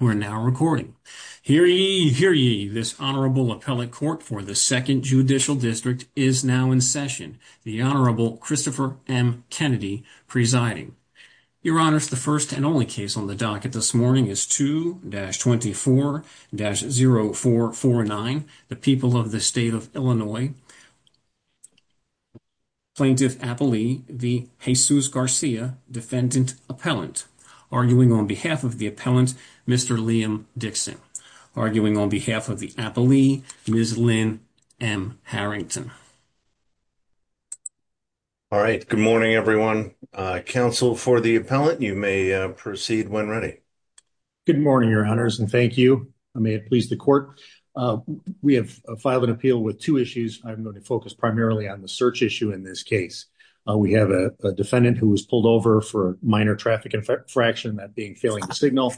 We're now recording. Hear ye, hear ye. This Honorable Appellate Court for the 2nd Judicial District is now in session. The Honorable Christopher M. Kennedy presiding. Your Honors, the first and only case on the docket this morning is 2-24-0449. The people of the state of Illinois plaintiff, Apolli, v. Jesus Garcia, defendant, appellant, arguing on behalf of the appellant, Mr. Liam Dixon. Arguing on behalf of the Apolli, Ms. Lynn M. Harrington. All right. Good morning, everyone. Counsel for the appellant, you may proceed when ready. Good morning, Your Honors, and thank you. I may have pleased the court. We have filed an appeal with two issues. I'm going to focus primarily on the search issue in this case. We have a defendant who was pulled over for minor traffic infraction, that being failing to signal.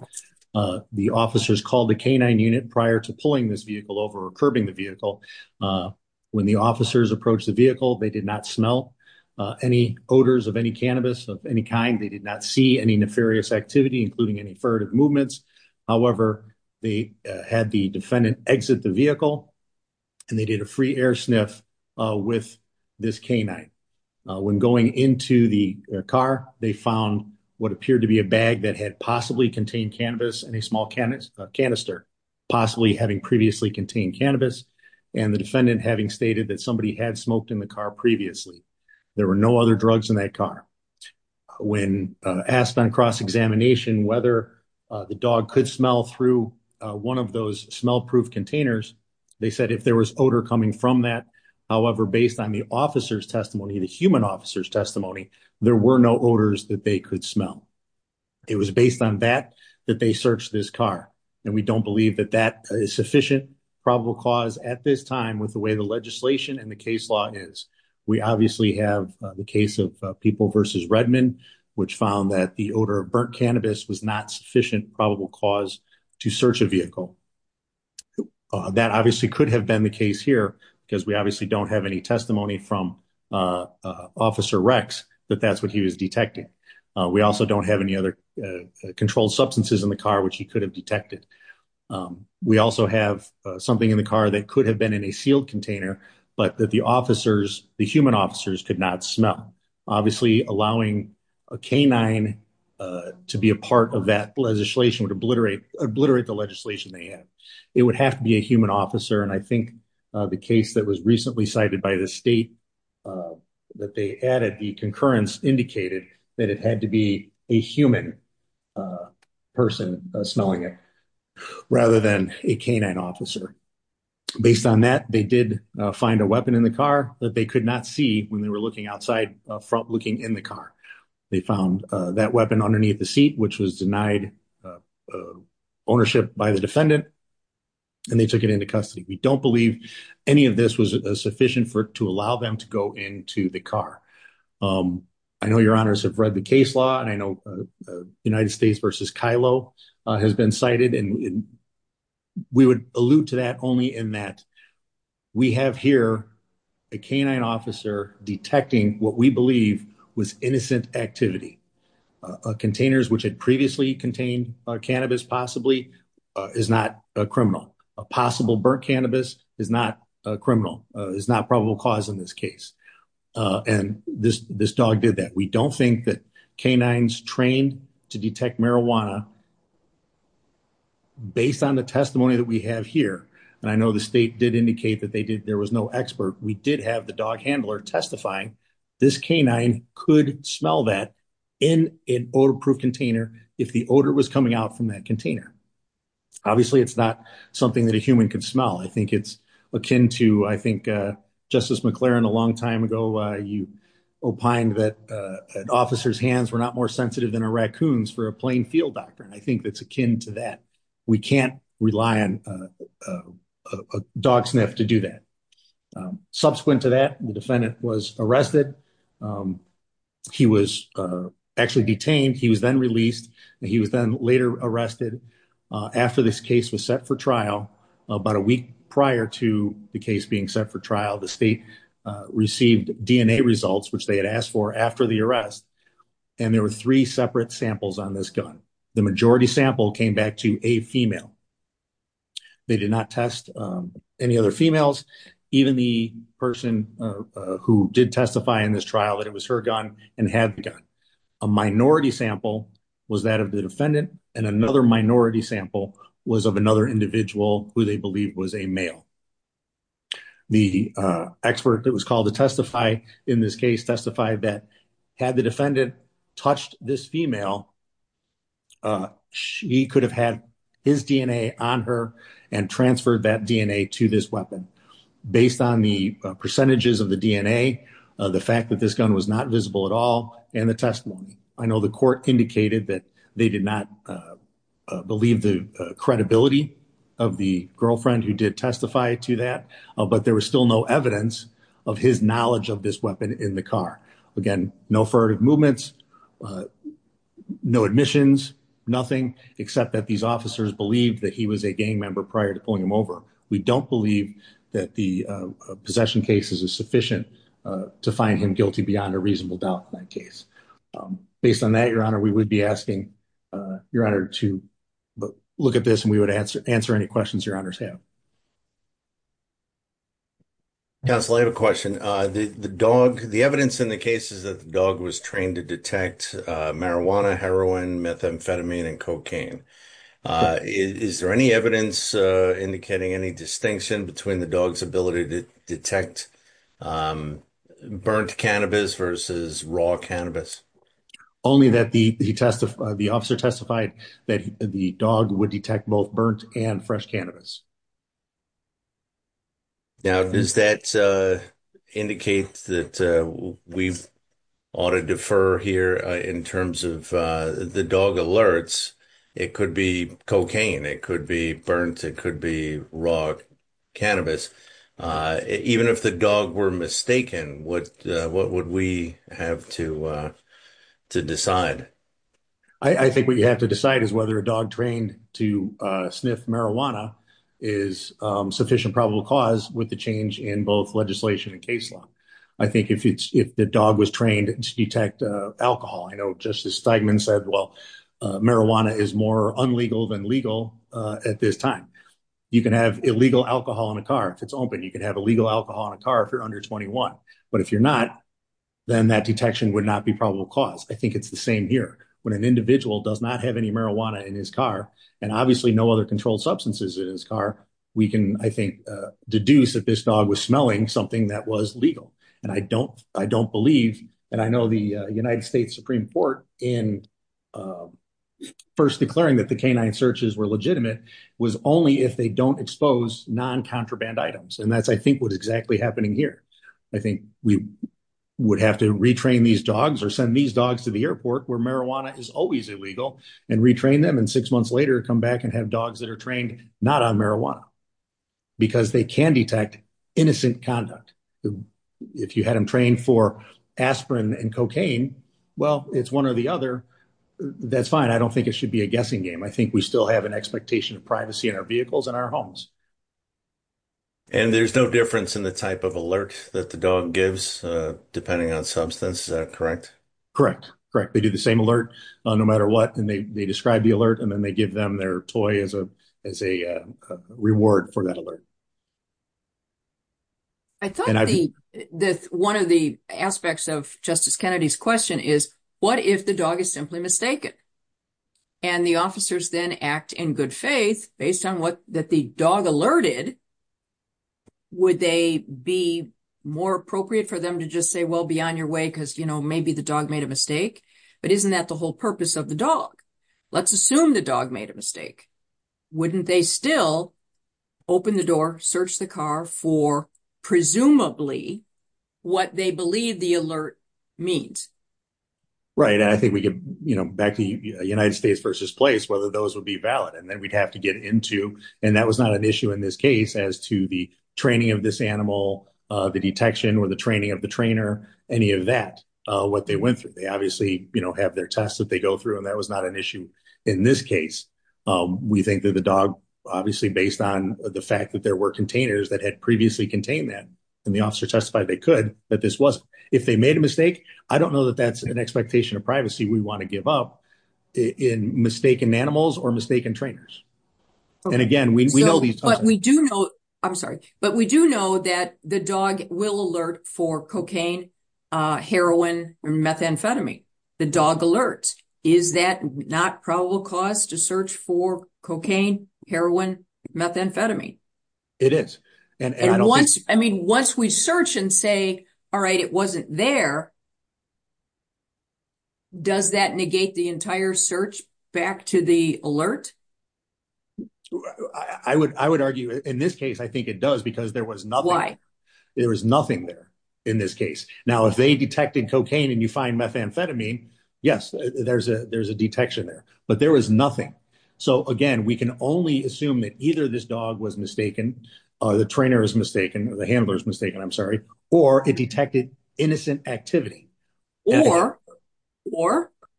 The officers called the canine unit prior to pulling this vehicle over or curbing the vehicle. When the officers approached the vehicle, they did not smell any odors of any cannabis of any kind. They did not see any nefarious activity, including any furtive movements. However, they had the defendant exit the vehicle, and they did a free air sniff with this canine. When going into the car, they found what appeared to be a bag that had possibly contained cannabis in a small canister, possibly having previously contained cannabis, and the defendant having stated that somebody had smoked in the car previously. There were no other drugs in that car. When asked on cross-examination whether the dog could smell through one of those smell-proof containers, they said if there was odor coming from that, however, based on the officer's testimony, the human officer's testimony, there were no odors that they could smell. It was based on that that they searched this car, and we don't believe that that is sufficient probable cause at this time with the way the legislation and the case law is. We obviously have the case of People v. Redmond, which found that the odor of burnt cannabis was not sufficient probable cause to search a vehicle. That obviously could have been the case here because we obviously don't have any testimony from Officer Rex that that's what he was detecting. We also don't have any other controlled substances in the car which he could have detected. We also have something in the car that could have been in a sealed container, but that the officers, the human officers, could not smell. Obviously, allowing a canine to be a part of that legislation would obliterate the legislation they had. It would have to be a human officer, and I think the case that was recently cited by the state that they added, the concurrence indicated that it had to be a human person smelling it rather than a canine officer. Based on that, they did find a weapon in the car that they could not see when they were looking outside, looking in the car. They found that weapon underneath the seat, which was denied ownership by the defendant, and they took it into custody. We don't believe any of this was sufficient to allow them to go into the car. I know your honors have read the case law, and I know United States v. Kylo has been cited, and we would allude to that only in that we have here a canine officer detecting what we believe was innocent activity. Containers which had previously contained cannabis possibly is not a criminal. A possible burnt cannabis is not a criminal, is not probable cause in this case. And this dog did that. We don't think that canines trained to detect marijuana, based on the testimony that we have here, and I know the state did indicate that there was no expert. We did have the dog handler testifying. This canine could smell that in an odor-proof container if the odor was coming out from that container. Obviously, it's not something that a human could smell. I think it's akin to, I think, Justice McClaren, a long time ago, you opined that an officer's hands were not more sensitive than a raccoon's for a playing field doctor, and I think that's akin to that. We can't rely on a dog sniff to do that. Subsequent to that, the defendant was arrested. He was actually detained. He was then released, and he was then later arrested. After this case was set for trial, about a week prior to the case being set for trial, the state received DNA results, which they had asked for after the arrest, and there were three separate samples on this gun. The majority sample came back to a female. They did not test any other females, even the person who did testify in this trial that it was her gun and had the gun. A minority sample was that of the defendant, and another minority sample was of another individual who they believed was a male. The expert that was called to testify in this case testified that had the defendant touched this female, he could have had his DNA on her and transferred that DNA to this weapon. Based on the percentages of the DNA, the fact that this gun was not visible at all and the testimony, I know the court indicated that they did not believe the credibility of the girlfriend who did testify to that, but there was still no evidence of his knowledge of this weapon in the car. Again, no furtive movements, no admissions, nothing, except that these officers believed that he was a gang member prior to pulling him over. We don't believe that the possession case is sufficient to find him guilty beyond a reasonable doubt in that case. Based on that, Your Honor, we would be asking Your Honor to look at this and we would answer any questions Your Honors have. Counsel, I have a question. The dog, the evidence in the case is that the dog was trained to detect marijuana, heroin, methamphetamine, and cocaine. Is there any evidence indicating any distinction between the dog's ability to detect burnt cannabis versus raw cannabis? Only that the officer testified that the dog would detect both burnt and fresh cannabis. Now, does that indicate that we ought to defer here in terms of the dog alerts? It could be cocaine. It could be burnt. It could be raw cannabis. Even if the dog were mistaken, what would we have to decide? I think what you have to decide is whether a dog trained to sniff marijuana is sufficient probable cause with the change in both legislation and case law. I think if the dog was trained to detect alcohol, I know Justice Steigman said, well, marijuana is more unlegal than legal at this time. You can have illegal alcohol in a car if it's open. You can have illegal alcohol in a car if you're under 21. But if you're not, then that detection would not be probable cause. I think it's the same here. When an individual does not have any marijuana in his car, and obviously no other controlled substances in his car, we can, I think, deduce that this dog was smelling something that was legal. And I don't believe, and I know the United States Supreme Court in first declaring that the canine searches were legitimate was only if they don't expose non-contraband items. And that's, I think, what's exactly happening here. I think we would have to retrain these dogs or send these dogs to the airport where marijuana is always illegal and retrain them. And six months later, come back and have dogs that are trained not on marijuana because they can detect innocent conduct. If you had them trained for aspirin and cocaine, well, it's one or the other. That's fine. I don't think it should be a guessing game. I think we still have an expectation of privacy in our vehicles and our homes. And there's no difference in the type of alert that the dog gives depending on substance. Is that correct? Correct. They do the same alert no matter what. And they describe the alert, and then they give them their toy as a reward for that alert. I thought one of the aspects of Justice Kennedy's question is, what if the dog is simply mistaken? And the officers then act in good faith based on what the dog alerted. Would they be more appropriate for them to just say, well, be on your way because maybe the dog made a mistake? But isn't that the whole purpose of the dog? Let's assume the dog made a mistake. Wouldn't they still open the door, search the car for presumably what they believe the alert means? Right. And I think we get back to United States versus place, whether those would be valid. And then we'd have to get into. And that was not an issue in this case as to the training of this animal, the detection or the training of the trainer, any of that, what they went through. They obviously have their tests that they go through. And that was not an issue in this case. We think that the dog, obviously, based on the fact that there were containers that had previously contained that, and the officer testified they could, that this was. If they made a mistake, I don't know that that's an expectation of privacy. We want to give up in mistaken animals or mistaken trainers. And again, we know these. But we do know. I'm sorry, but we do know that the dog will alert for cocaine, heroin, methamphetamine. The dog alerts. Is that not probable cause to search for cocaine, heroin, methamphetamine? It is. I mean, once we search and say, all right, it wasn't there. Does that negate the entire search back to the alert? I would argue in this case, I think it does, because there was nothing. There was nothing there in this case. Now, if they detected cocaine and you find methamphetamine, yes, there's a detection there. But there was nothing. So, again, we can only assume that either this dog was mistaken or the trainer is mistaken. The handler is mistaken. I'm sorry. Or it detected innocent activity. Or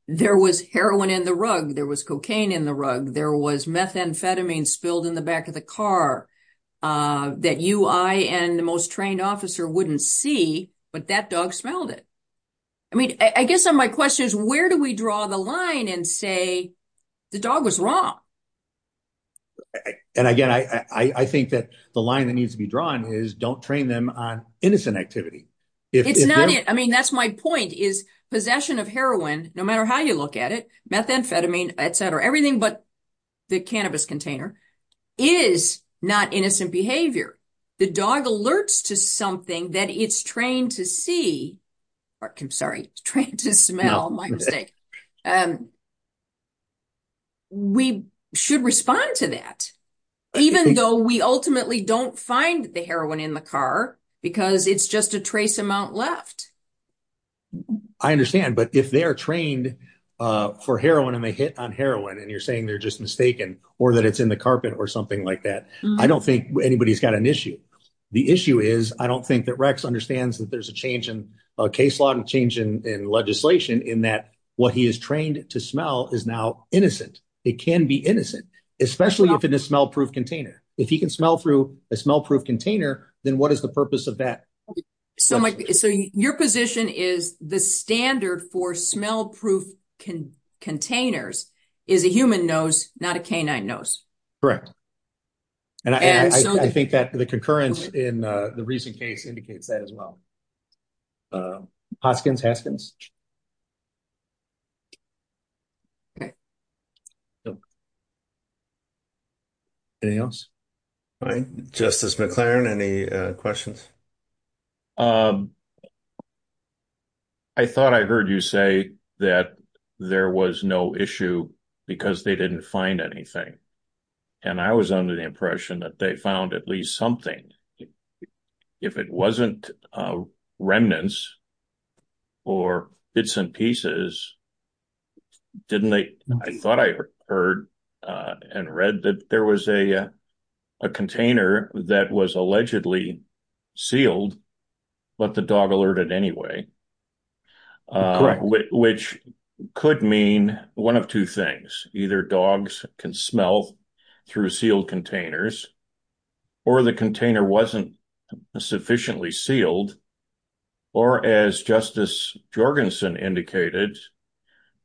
there was heroin in the rug. There was cocaine in the rug. There was methamphetamine spilled in the back of the car that you, I and the most trained officer wouldn't see. But that dog smelled it. I mean, I guess some of my question is where do we draw the line and say the dog was wrong? And again, I think that the line that needs to be drawn is don't train them on innocent activity. It's not it. I mean, that's my point is possession of heroin, no matter how you look at it, methamphetamine, et cetera, everything but the cannabis container is not innocent behavior. The dog alerts to something that it's trained to see. I'm sorry, trained to smell my mistake. We should respond to that, even though we ultimately don't find the heroin in the car because it's just a trace amount left. I understand. But if they are trained for heroin and they hit on heroin and you're saying they're just mistaken or that it's in the carpet or something like that. I don't think anybody's got an issue. The issue is I don't think that Rex understands that there's a change in case law and change in legislation in that what he is trained to smell is now innocent. It can be innocent, especially if it is smell proof container. If he can smell through a smell proof container, then what is the purpose of that? So your position is the standard for smell proof containers is a human nose, not a canine nose. Correct. And I think that the concurrence in the recent case indicates that as well. Hoskins, Haskins. Anything else? Justice McLaren, any questions? I thought I heard you say that there was no issue because they didn't find anything. And I was under the impression that they found at least something. If it wasn't remnants or bits and pieces, I thought I heard and read that there was a container that was allegedly sealed, but the dog alerted anyway. Correct. Which could mean one of two things. Either dogs can smell through sealed containers or the container wasn't sufficiently sealed. Or as Justice Jorgensen indicated,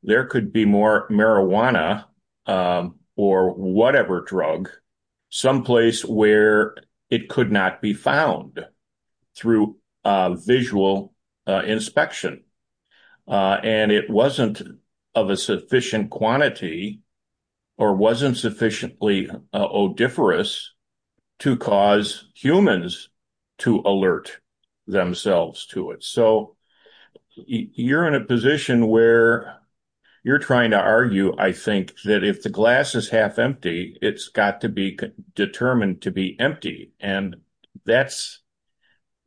there could be more marijuana or whatever drug someplace where it could not be found through visual inspection. And it wasn't of a sufficient quantity or wasn't sufficiently odiferous to cause humans to alert themselves to it. So you're in a position where you're trying to argue, I think, that if the glass is half empty, it's got to be determined to be empty. And that's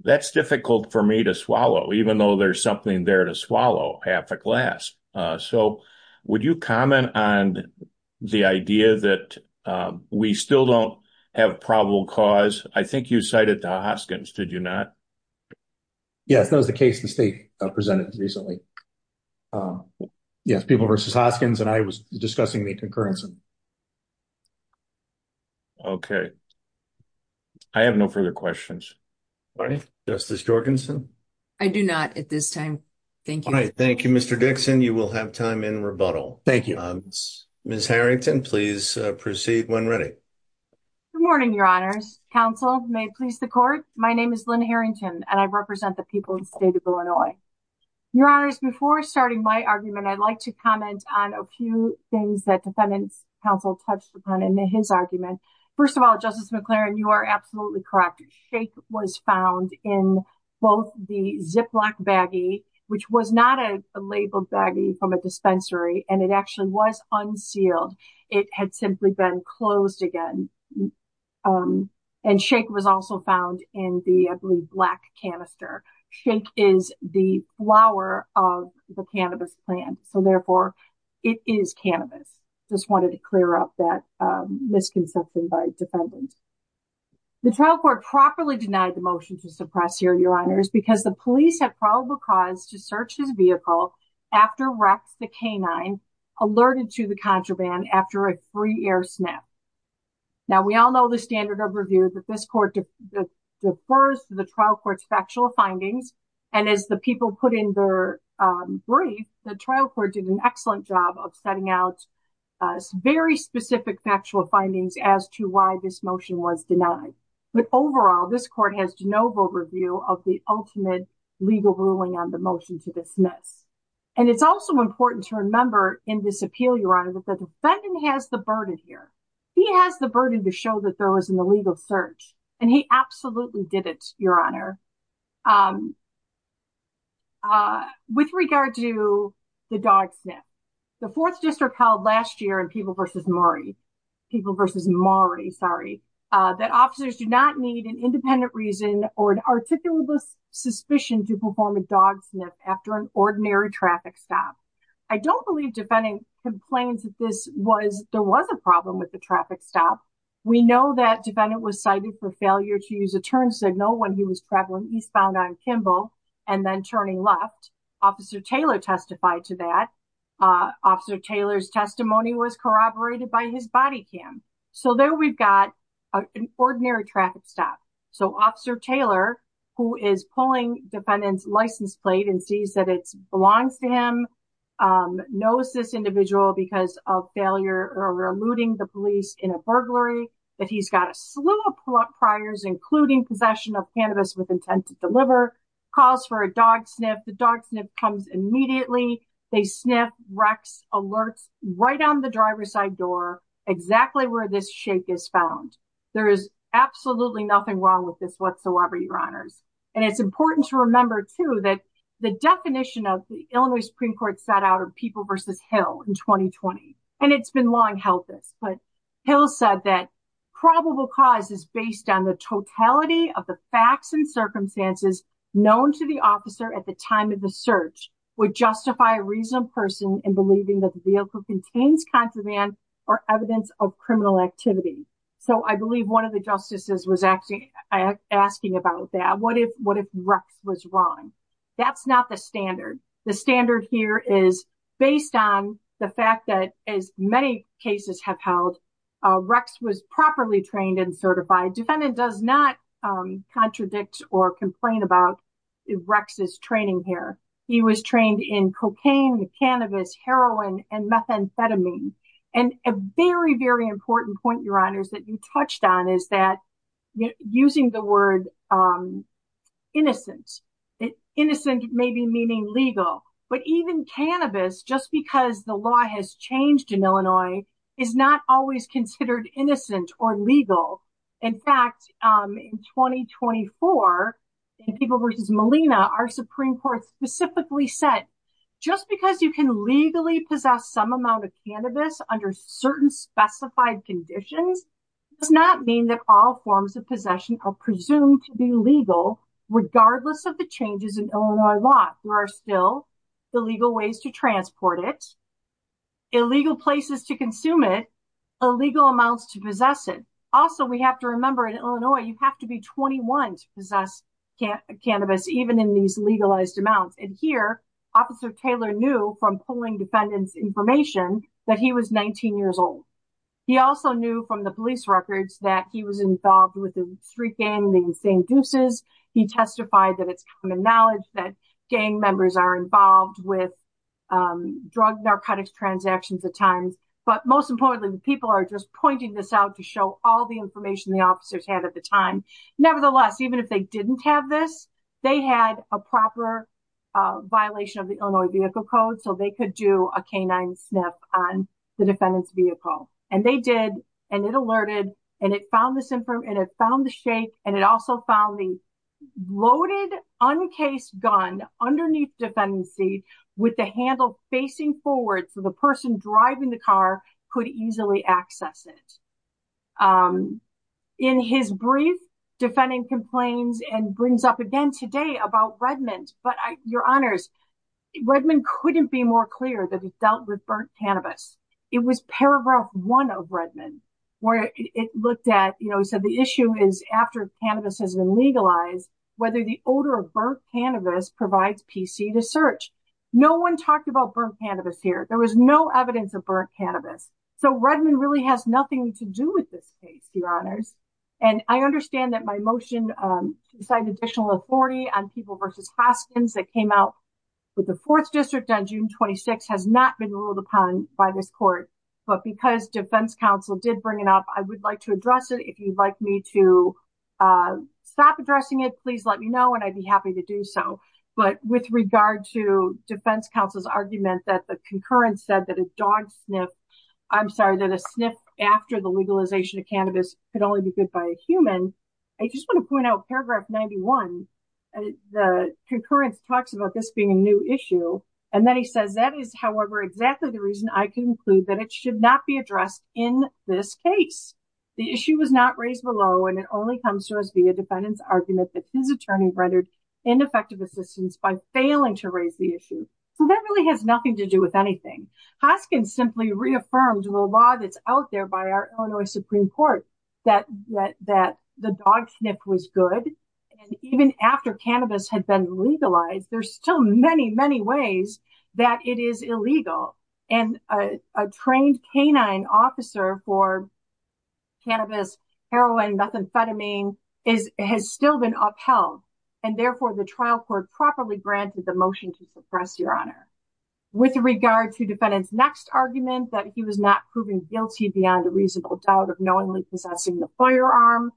difficult for me to swallow, even though there's something there to swallow, half a glass. So would you comment on the idea that we still don't have probable cause? I think you cited the Hoskins, did you not? Yes, that was the case the state presented recently. Yes, People v. Hoskins, and I was discussing the concurrence. Okay. I have no further questions. Justice Jorgensen? I do not at this time. Thank you. All right. Thank you, Mr. Dixon. You will have time in rebuttal. Thank you. Ms. Harrington, please proceed when ready. Good morning, Your Honors. Counsel, may it please the Court? My name is Lynn Harrington, and I represent the people of the state of Illinois. Your Honors, before starting my argument, I'd like to comment on a few things that Defendant's Counsel touched upon in his argument. First of all, Justice McLaren, you are absolutely correct. Shake was found in both the Ziploc baggie, which was not a labeled baggie from a dispensary, and it actually was unsealed. It had simply been closed again. And shake was also found in the, I believe, black canister. Shake is the flower of the cannabis plant, so therefore, it is cannabis. Just wanted to clear up that misconception by Defendant. The trial court properly denied the motion to suppress here, Your Honors, because the police had probable cause to search his vehicle after Rex, the canine, alerted to the contraband after a free air snap. Now, we all know the standard of review that this court defers to the trial court's factual findings. And as the people put in their brief, the trial court did an excellent job of setting out very specific factual findings as to why this motion was denied. But overall, this court has de novo review of the ultimate legal ruling on the motion to dismiss. And it's also important to remember in this appeal, Your Honor, that the defendant has the burden here. He has the burden to show that there was an illegal search, and he absolutely did it, Your Honor. With regard to the dog sniff, the 4th District held last year in People v. Maury, that officers do not need an independent reason or an articulateless suspicion to perform a dog sniff after an ordinary traffic stop. I don't believe defendant complains that there was a problem with the traffic stop. We know that defendant was cited for failure to use a turn signal when he was traveling eastbound on Kimball and then turning left. Officer Taylor testified to that. Officer Taylor's testimony was corroborated by his body cam. So there we've got an ordinary traffic stop. So Officer Taylor, who is pulling defendant's license plate and sees that it belongs to him, knows this individual because of failure or eluding the police in a burglary, that he's got a slew of priors, including possession of cannabis with intent to deliver, calls for a dog sniff. The dog sniff comes immediately. They sniff, rex, alerts, right on the driver's side door, exactly where this shake is found. There is absolutely nothing wrong with this whatsoever, Your Honors. And it's important to remember, too, that the definition of the Illinois Supreme Court set out of People v. Hill in 2020. And it's been long held this, but Hill said that probable cause is based on the totality of the facts and circumstances known to the officer at the time of the search would justify a reasonable person in believing that the vehicle contains contraband or evidence of criminal activity. I believe one of the justices was asking about that. What if rex was wrong? That's not the standard. The standard here is based on the fact that as many cases have held, rex was properly trained and certified. Defendant does not contradict or complain about rex's training here. He was trained in cocaine, cannabis, heroin and methamphetamine. And a very, very important point, Your Honors, that you touched on is that using the word innocent. Innocent may be meaning legal, but even cannabis, just because the law has changed in Illinois, is not always considered innocent or legal. In fact, in 2024, in People v. Molina, our Supreme Court specifically said, just because you can legally possess some amount of cannabis under certain specified conditions, does not mean that all forms of possession are presumed to be legal, regardless of the changes in Illinois law. There are still illegal ways to transport it, illegal places to consume it, illegal amounts to possess it. So we have to remember in Illinois, you have to be 21 to possess cannabis, even in these legalized amounts. And here, Officer Taylor knew from pulling defendant's information that he was 19 years old. He also knew from the police records that he was involved with the street gang, the Insane Deuces. He testified that it's common knowledge that gang members are involved with drug, narcotics transactions at times. But most importantly, the people are just pointing this out to show all the information the officers had at the time. Nevertheless, even if they didn't have this, they had a proper violation of the Illinois Vehicle Code, so they could do a canine sniff on the defendant's vehicle. And they did, and it alerted, and it found the shape, and it also found the loaded, uncased gun underneath the defendant's seat, with the handle facing forward so the person driving the car could easily access it. In his brief, defendant complains and brings up again today about Redmond. But your honors, Redmond couldn't be more clear that he dealt with burnt cannabis. It was paragraph one of Redmond where it looked at, you know, so the issue is after cannabis has been legalized, whether the odor of burnt cannabis provides PC to search. No one talked about burnt cannabis here. There was no evidence of burnt cannabis. So Redmond really has nothing to do with this case, your honors. And I understand that my motion to decide additional authority on people versus hostings that came out with the 4th District on June 26 has not been ruled upon by this court. But because defense counsel did bring it up, I would like to address it. If you'd like me to stop addressing it, please let me know, and I'd be happy to do so. But with regard to defense counsel's argument that the concurrence said that a dog sniff, I'm sorry, that a sniff after the legalization of cannabis could only be good by a human. I just want to point out paragraph 91. The concurrence talks about this being a new issue. And then he says, that is, however, exactly the reason I conclude that it should not be addressed in this case. The issue was not raised below, and it only comes to us via defendant's argument that his attorney rendered ineffective assistance by failing to raise the issue. So that really has nothing to do with anything. Hoskins simply reaffirmed the law that's out there by our Illinois Supreme Court that the dog sniff was good. And even after cannabis had been legalized, there's still many, many ways that it is illegal. And a trained canine officer for cannabis, heroin, methamphetamine has still been upheld. And therefore, the trial court properly granted the motion to suppress your honor. With regard to defendant's next argument that he was not proven guilty beyond a reasonable doubt of knowingly possessing the firearm.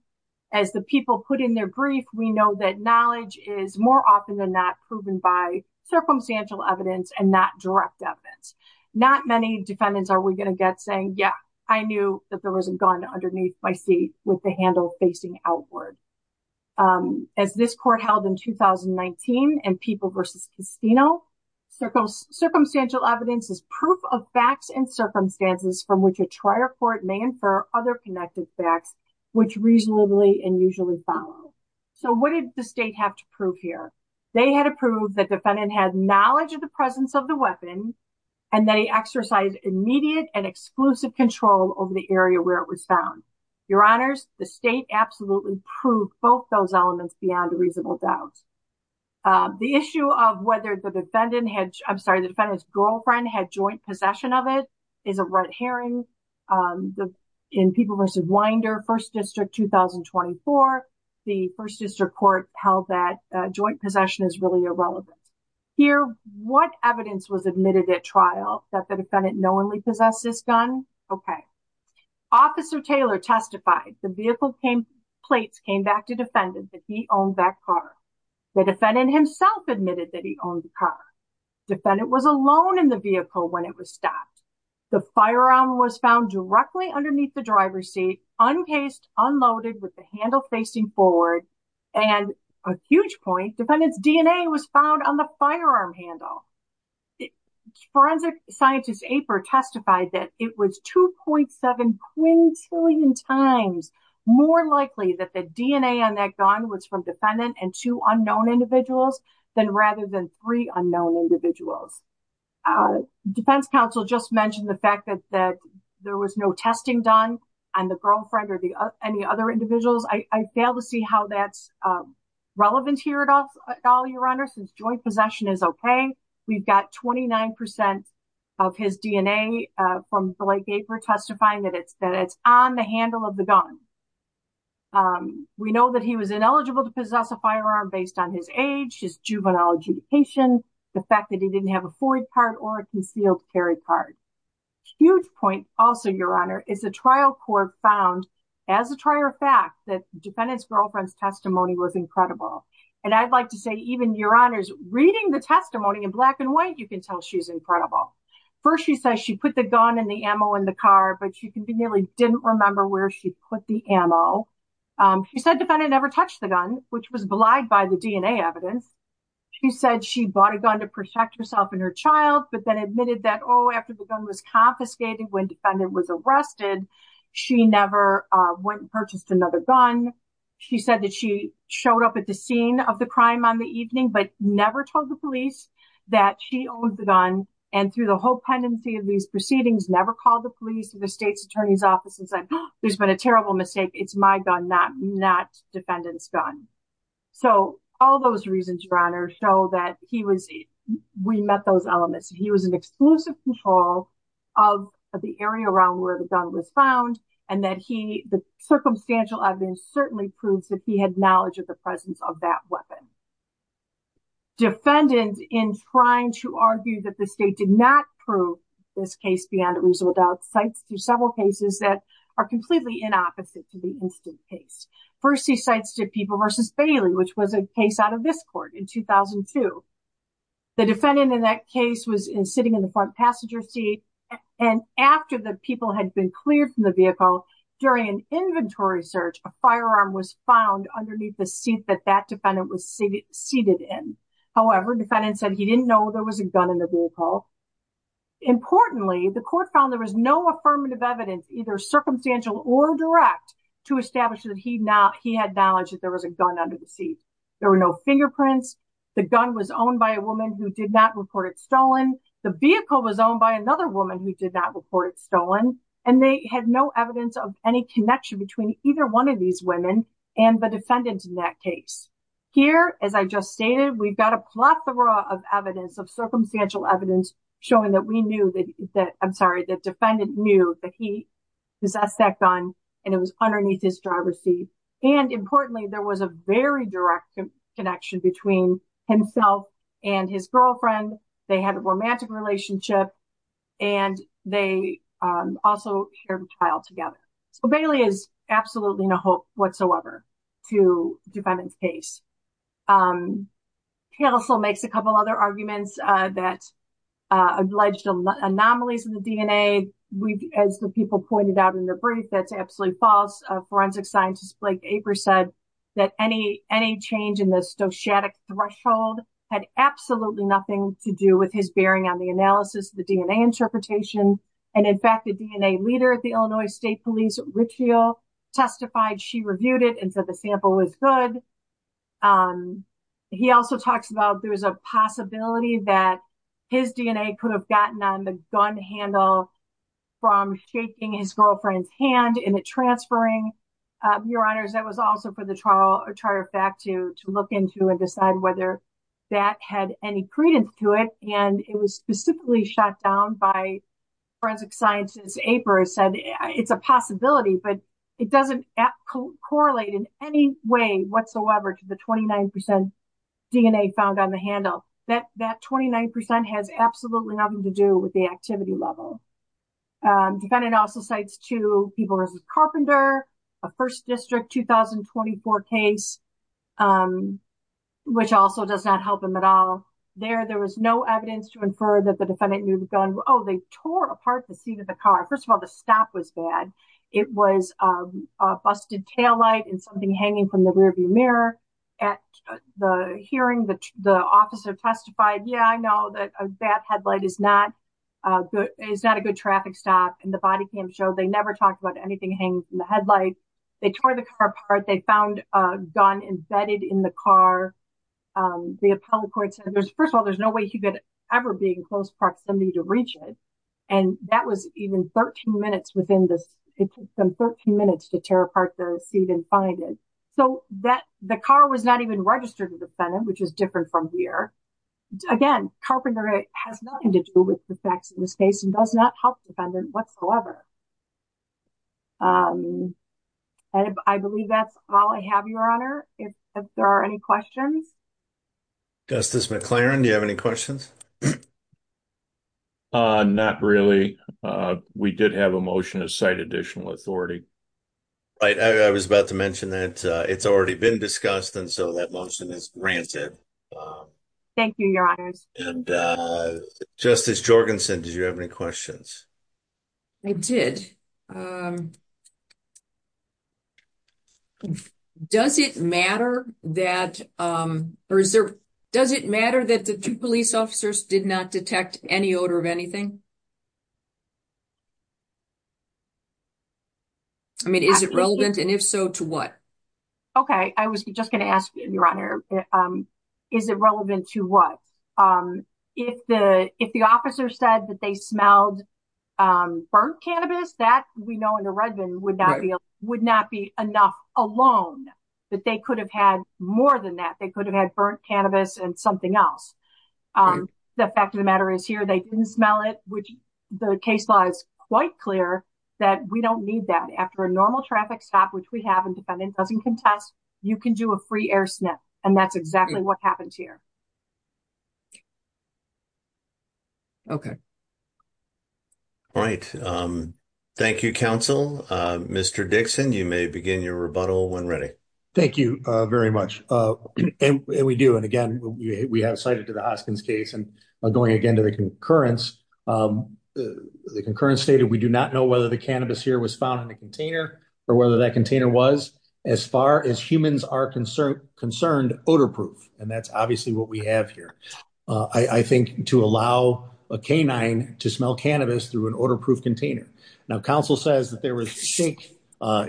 As the people put in their brief, we know that knowledge is more often than not proven by circumstantial evidence and not direct evidence. Not many defendants are we going to get saying, yeah, I knew that there was a gun underneath my seat with the handle facing outward. As this court held in 2019 and People v. Castino, circumstantial evidence is proof of facts and circumstances from which a trial court may infer other connected facts, which reasonably and usually follow. So what did the state have to prove here? They had to prove that defendant had knowledge of the presence of the weapon and that he exercised immediate and exclusive control over the area where it was found. Your honors, the state absolutely proved both those elements beyond a reasonable doubt. The issue of whether the defendant had, I'm sorry, the defendant's girlfriend had joint possession of it is a red herring. In People v. Winder, 1st District, 2024, the 1st District Court held that joint possession is really irrelevant. Here, what evidence was admitted at trial that the defendant knowingly possessed this gun? Okay, Officer Taylor testified the vehicle plates came back to defendant that he owned that car. The defendant himself admitted that he owned the car. Defendant was alone in the vehicle when it was stopped. The firearm was found directly underneath the driver's seat, uncased, unloaded with the handle facing forward. And a huge point, defendant's DNA was found on the firearm handle. Forensic scientist Aper testified that it was 2.7 quintillion times more likely that the DNA on that gun was from defendant and two unknown individuals than rather than three unknown individuals. Defense counsel just mentioned the fact that there was no testing done on the girlfriend or any other individuals. I fail to see how that's relevant here at all, Your Honor, since joint possession is okay. We've got 29% of his DNA from Blake Aper testifying that it's on the handle of the gun. We know that he was ineligible to possess a firearm based on his age, his juvenile adjudication, the fact that he didn't have a Ford part or a concealed carry part. Huge point also, Your Honor, is a trial court found as a prior fact that defendant's girlfriend's testimony was incredible. And I'd like to say even Your Honor's reading the testimony in black and white, you can tell she's incredible. First, she says she put the gun and the ammo in the car, but she can be nearly didn't remember where she put the ammo. She said defendant never touched the gun, which was belied by the DNA evidence. She said she bought a gun to protect herself and her child, but then admitted that after the gun was confiscated when defendant was arrested, she never went and purchased another gun. She said that she showed up at the scene of the crime on the evening, but never told the police that she owned the gun. And through the whole pendency of these proceedings, never called the police or the state's attorney's office and said, there's been a terrible mistake. It's my gun, not defendant's gun. So all those reasons, Your Honor, show that he was, we met those elements. He was in exclusive control of the area around where the gun was found, and that he, the circumstantial evidence certainly proves that he had knowledge of the presence of that weapon. Defendant, in trying to argue that the state did not prove this case beyond a reasonable doubt, cites through several cases that are completely inopposite to the instant case. First, he cites to People v. Bailey, which was a case out of this court in 2002. The defendant in that case was sitting in the front passenger seat, and after the people had been cleared from the vehicle, during an inventory search, a firearm was found underneath the seat that that defendant was seated in. However, defendant said he didn't know there was a gun in the vehicle. Importantly, the court found there was no affirmative evidence, either circumstantial or direct, to establish that he had knowledge that there was a gun under the seat. There were no fingerprints, the gun was owned by a woman who did not report it stolen, the vehicle was owned by another woman who did not report it stolen, and they had no evidence of any connection between either one of these women and the defendant in that case. Here, as I just stated, we've got a plethora of evidence, of circumstantial evidence, showing that we knew that, I'm sorry, the defendant knew that he possessed that gun, and it was underneath his driver's seat. And importantly, there was a very direct connection between himself and his girlfriend, they had a romantic relationship, and they also shared a child together. So Bailey is absolutely no hope whatsoever to the defendant's case. Counsel makes a couple other arguments that alleged anomalies in the DNA, as the people pointed out in the brief, that's absolutely false. Forensic scientist Blake Aper said that any change in the stochastic threshold had absolutely nothing to do with his bearing on the analysis of the DNA interpretation. And in fact, the DNA leader at the Illinois State Police, Richiel, testified, she reviewed it and said the sample was good. He also talks about there was a possibility that his DNA could have gotten on the gun handle from shaking his girlfriend's hand in the transferring. Your honors, that was also for the trial, or trial fact to look into and decide whether that had any credence to it. And it was specifically shot down by forensic scientist Aper, said it's a possibility, but it doesn't correlate in any way whatsoever to the 29% DNA found on the handle. That 29% has absolutely nothing to do with the activity level. Defendant also cites two people, a carpenter, a first district 2024 case, which also does not help him at all. There was no evidence to infer that the defendant knew the gun. Oh, they tore apart the seat of the car. First of all, the stop was bad. It was a busted taillight and something hanging from the rear view mirror. At the hearing, the officer testified, yeah, I know that that headlight is not a good traffic stop. And the body cam showed they never talked about anything hanging from the headlight. They tore the car apart. They found a gun embedded in the car. The appellate court said, first of all, there's no way he could ever be in close proximity to reach it. And that was even 13 minutes within this. It took them 13 minutes to tear apart the seat and find it. So that the car was not even registered with the defendant, which is different from here. Again, carpenter has nothing to do with the facts in this case and does not help defendant whatsoever. And I believe that's all I have, Your Honor. If there are any questions. Justice McLaren, do you have any questions? Not really. We did have a motion to cite additional authority. Right. I was about to mention that it's already been discussed. And so that motion is granted. Thank you, Your Honors. And Justice Jorgensen, did you have any questions? I did. Does it matter that, the officers did not detect any odor of anything? I mean, is it relevant? And if so, to what? I was just going to ask you, Your Honor, is it relevant to what? If the, if the officer said that they smelled burnt cannabis, that we know under Redmond would not be, would not be enough alone, that they could have had more than that. They could have had burnt cannabis and something else. The fact of the matter is here, they didn't smell it, which the case law is quite clear that we don't need that. After a normal traffic stop, which we have and defendant doesn't contest, you can do a free air snip. And that's exactly what happens here. Okay. All right. Thank you, counsel. Mr. Dixon, you may begin your rebuttal when ready. Thank you very much. And we do. And again, we have cited to the Hoskins case. And going again to the concurrence, the concurrence stated, we do not know whether the cannabis here was found in a container or whether that container was as far as humans are concerned, concerned odor proof. And that's obviously what we have here. I think to allow a canine to smell cannabis through an odor proof container. Now counsel says that there was a shake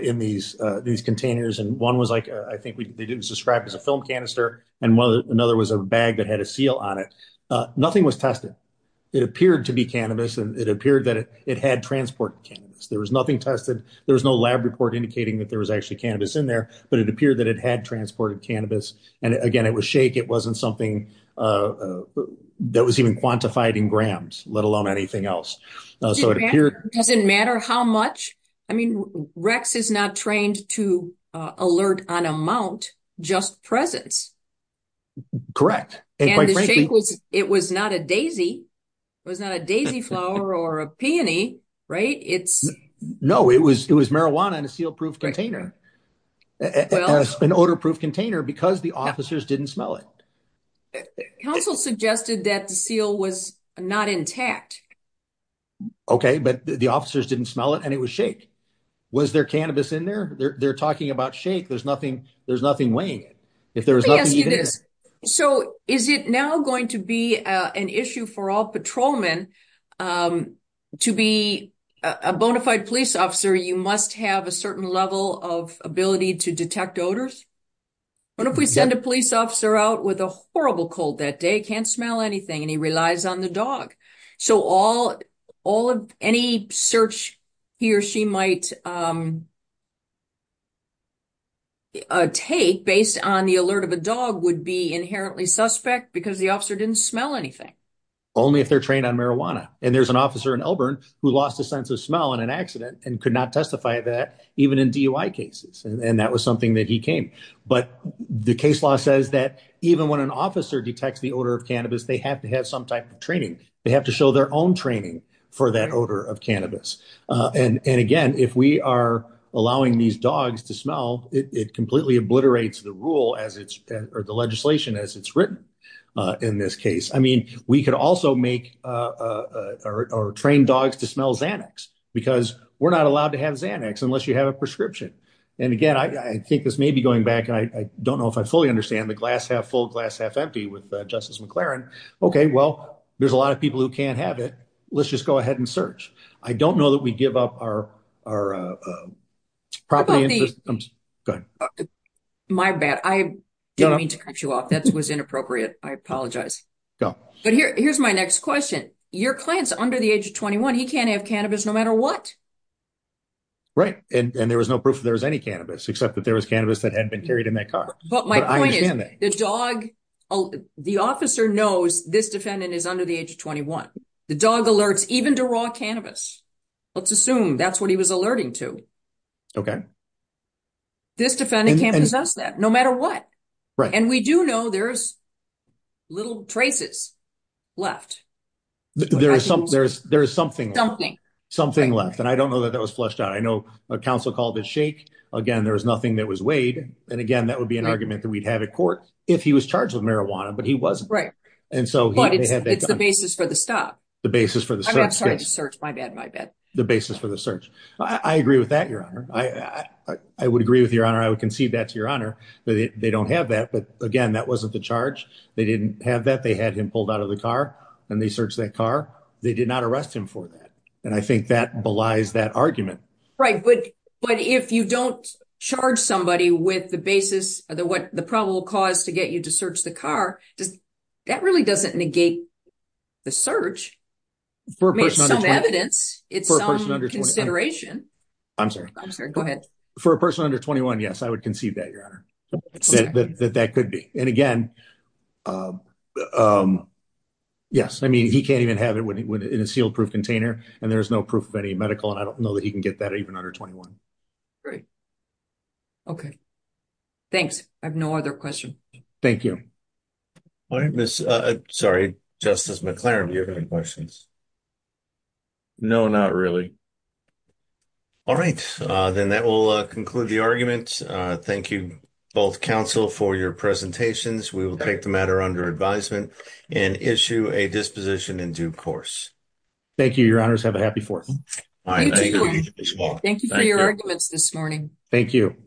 in these, these containers. And one was like, I think they didn't subscribe as a film canister. And another was a bag that had a seal on it. Nothing was tested. It appeared to be cannabis. And it appeared that it had transport. There was nothing tested. There was no lab report indicating that there was actually cannabis in there, but it appeared that it had transported cannabis. And again, it was shake. It wasn't something that was even quantified in grams, let alone anything else. So it doesn't matter how much, I mean, Rex is not trained to alert on amount, just presence. It was not a Daisy. It was not a Daisy flower or a peony, right? It's no, it was, it was marijuana and a seal proof container, an odor proof container because the officers didn't smell it. Counsel suggested that the seal was not intact. Okay. But the officers didn't smell it and it was shake. Was there cannabis in there? They're talking about shake. There's nothing, there's nothing weighing it. So is it now going to be a, an issue for all patrolmen to be a bonafide police officer? You must have a certain level of ability to detect odors. What if we send a police officer out with a horrible cold that day? Can't smell anything. And he relies on the dog. So all, all of any search he or she might take based on the alert of a dog would be inherently suspect because the officer didn't smell anything. Only if they're trained on marijuana. And there's an officer in Elburn who lost a sense of smell in an accident and could not testify that even in DUI cases. And that was something that he came, but the case law says that even when an officer detects the odor of cannabis, they have to have some type of training. They have to show their own training for that odor of cannabis. And, and again, if we are allowing these dogs to smell, it completely obliterates the rule as it's, or the legislation as it's written in this case. I mean, we could also make, or train dogs to smell Xanax because we're not allowed to have Xanax unless you have a prescription. And again, I think this may be going back and I don't know if I fully agree with Justice McClaren. Okay. Well, there's a lot of people who can't have it. Let's just go ahead and search. I don't know that we give up our, our property. My bad. I didn't mean to cut you off. That was inappropriate. I apologize. But here, here's my next question. Your client's under the age of 21. He can't have cannabis no matter what. Right. And there was no proof that there was any cannabis, except that there was cannabis that had been carried in that car. But my point is the dog, the officer knows this defendant is under the age of 21. The dog alerts even to raw cannabis. Let's assume that's what he was alerting to. Okay. This defendant can't possess that no matter what. Right. And we do know there's little traces left. There's something, there's, there's something, something, something left. And I don't know that that was flushed out. I know a council called it shake again. There was nothing that was weighed. And again, that would be an argument that we'd have at court. If he was charged with marijuana, but he wasn't. Right. And so it's the basis for the stop, the basis for the search search. My bad, my bad. The basis for the search. I agree with that. Your honor. I would agree with your honor. I would concede that to your honor. They don't have that. But again, that wasn't the charge. They didn't have that. They had him pulled out of the car. And they searched that car. They did not arrest him for that. And I think that belies that argument. Right. But, but if you don't charge somebody with the basis of the, what the probable cause to get you to search the car, does that really doesn't negate the search for evidence? It's consideration. I'm sorry. I'm sorry. Go ahead. For a person under 21. Yes. I would concede that your honor. That that could be. And again, yes. I mean, he can't even have it when he went in a sealed proof container and there's no proof of any medical. And I don't know that he can get that even under 21. Great. Okay. Thanks. I have no other question. Thank you. Sorry, Justice McLaren. Do you have any questions? No, not really. All right. Then that will conclude the argument. Thank you both counsel for your presentations. We will take the matter under advisement and issue a disposition in due course. Thank you, your honors. Have a happy fourth. Thank you for your arguments this morning. Thank you.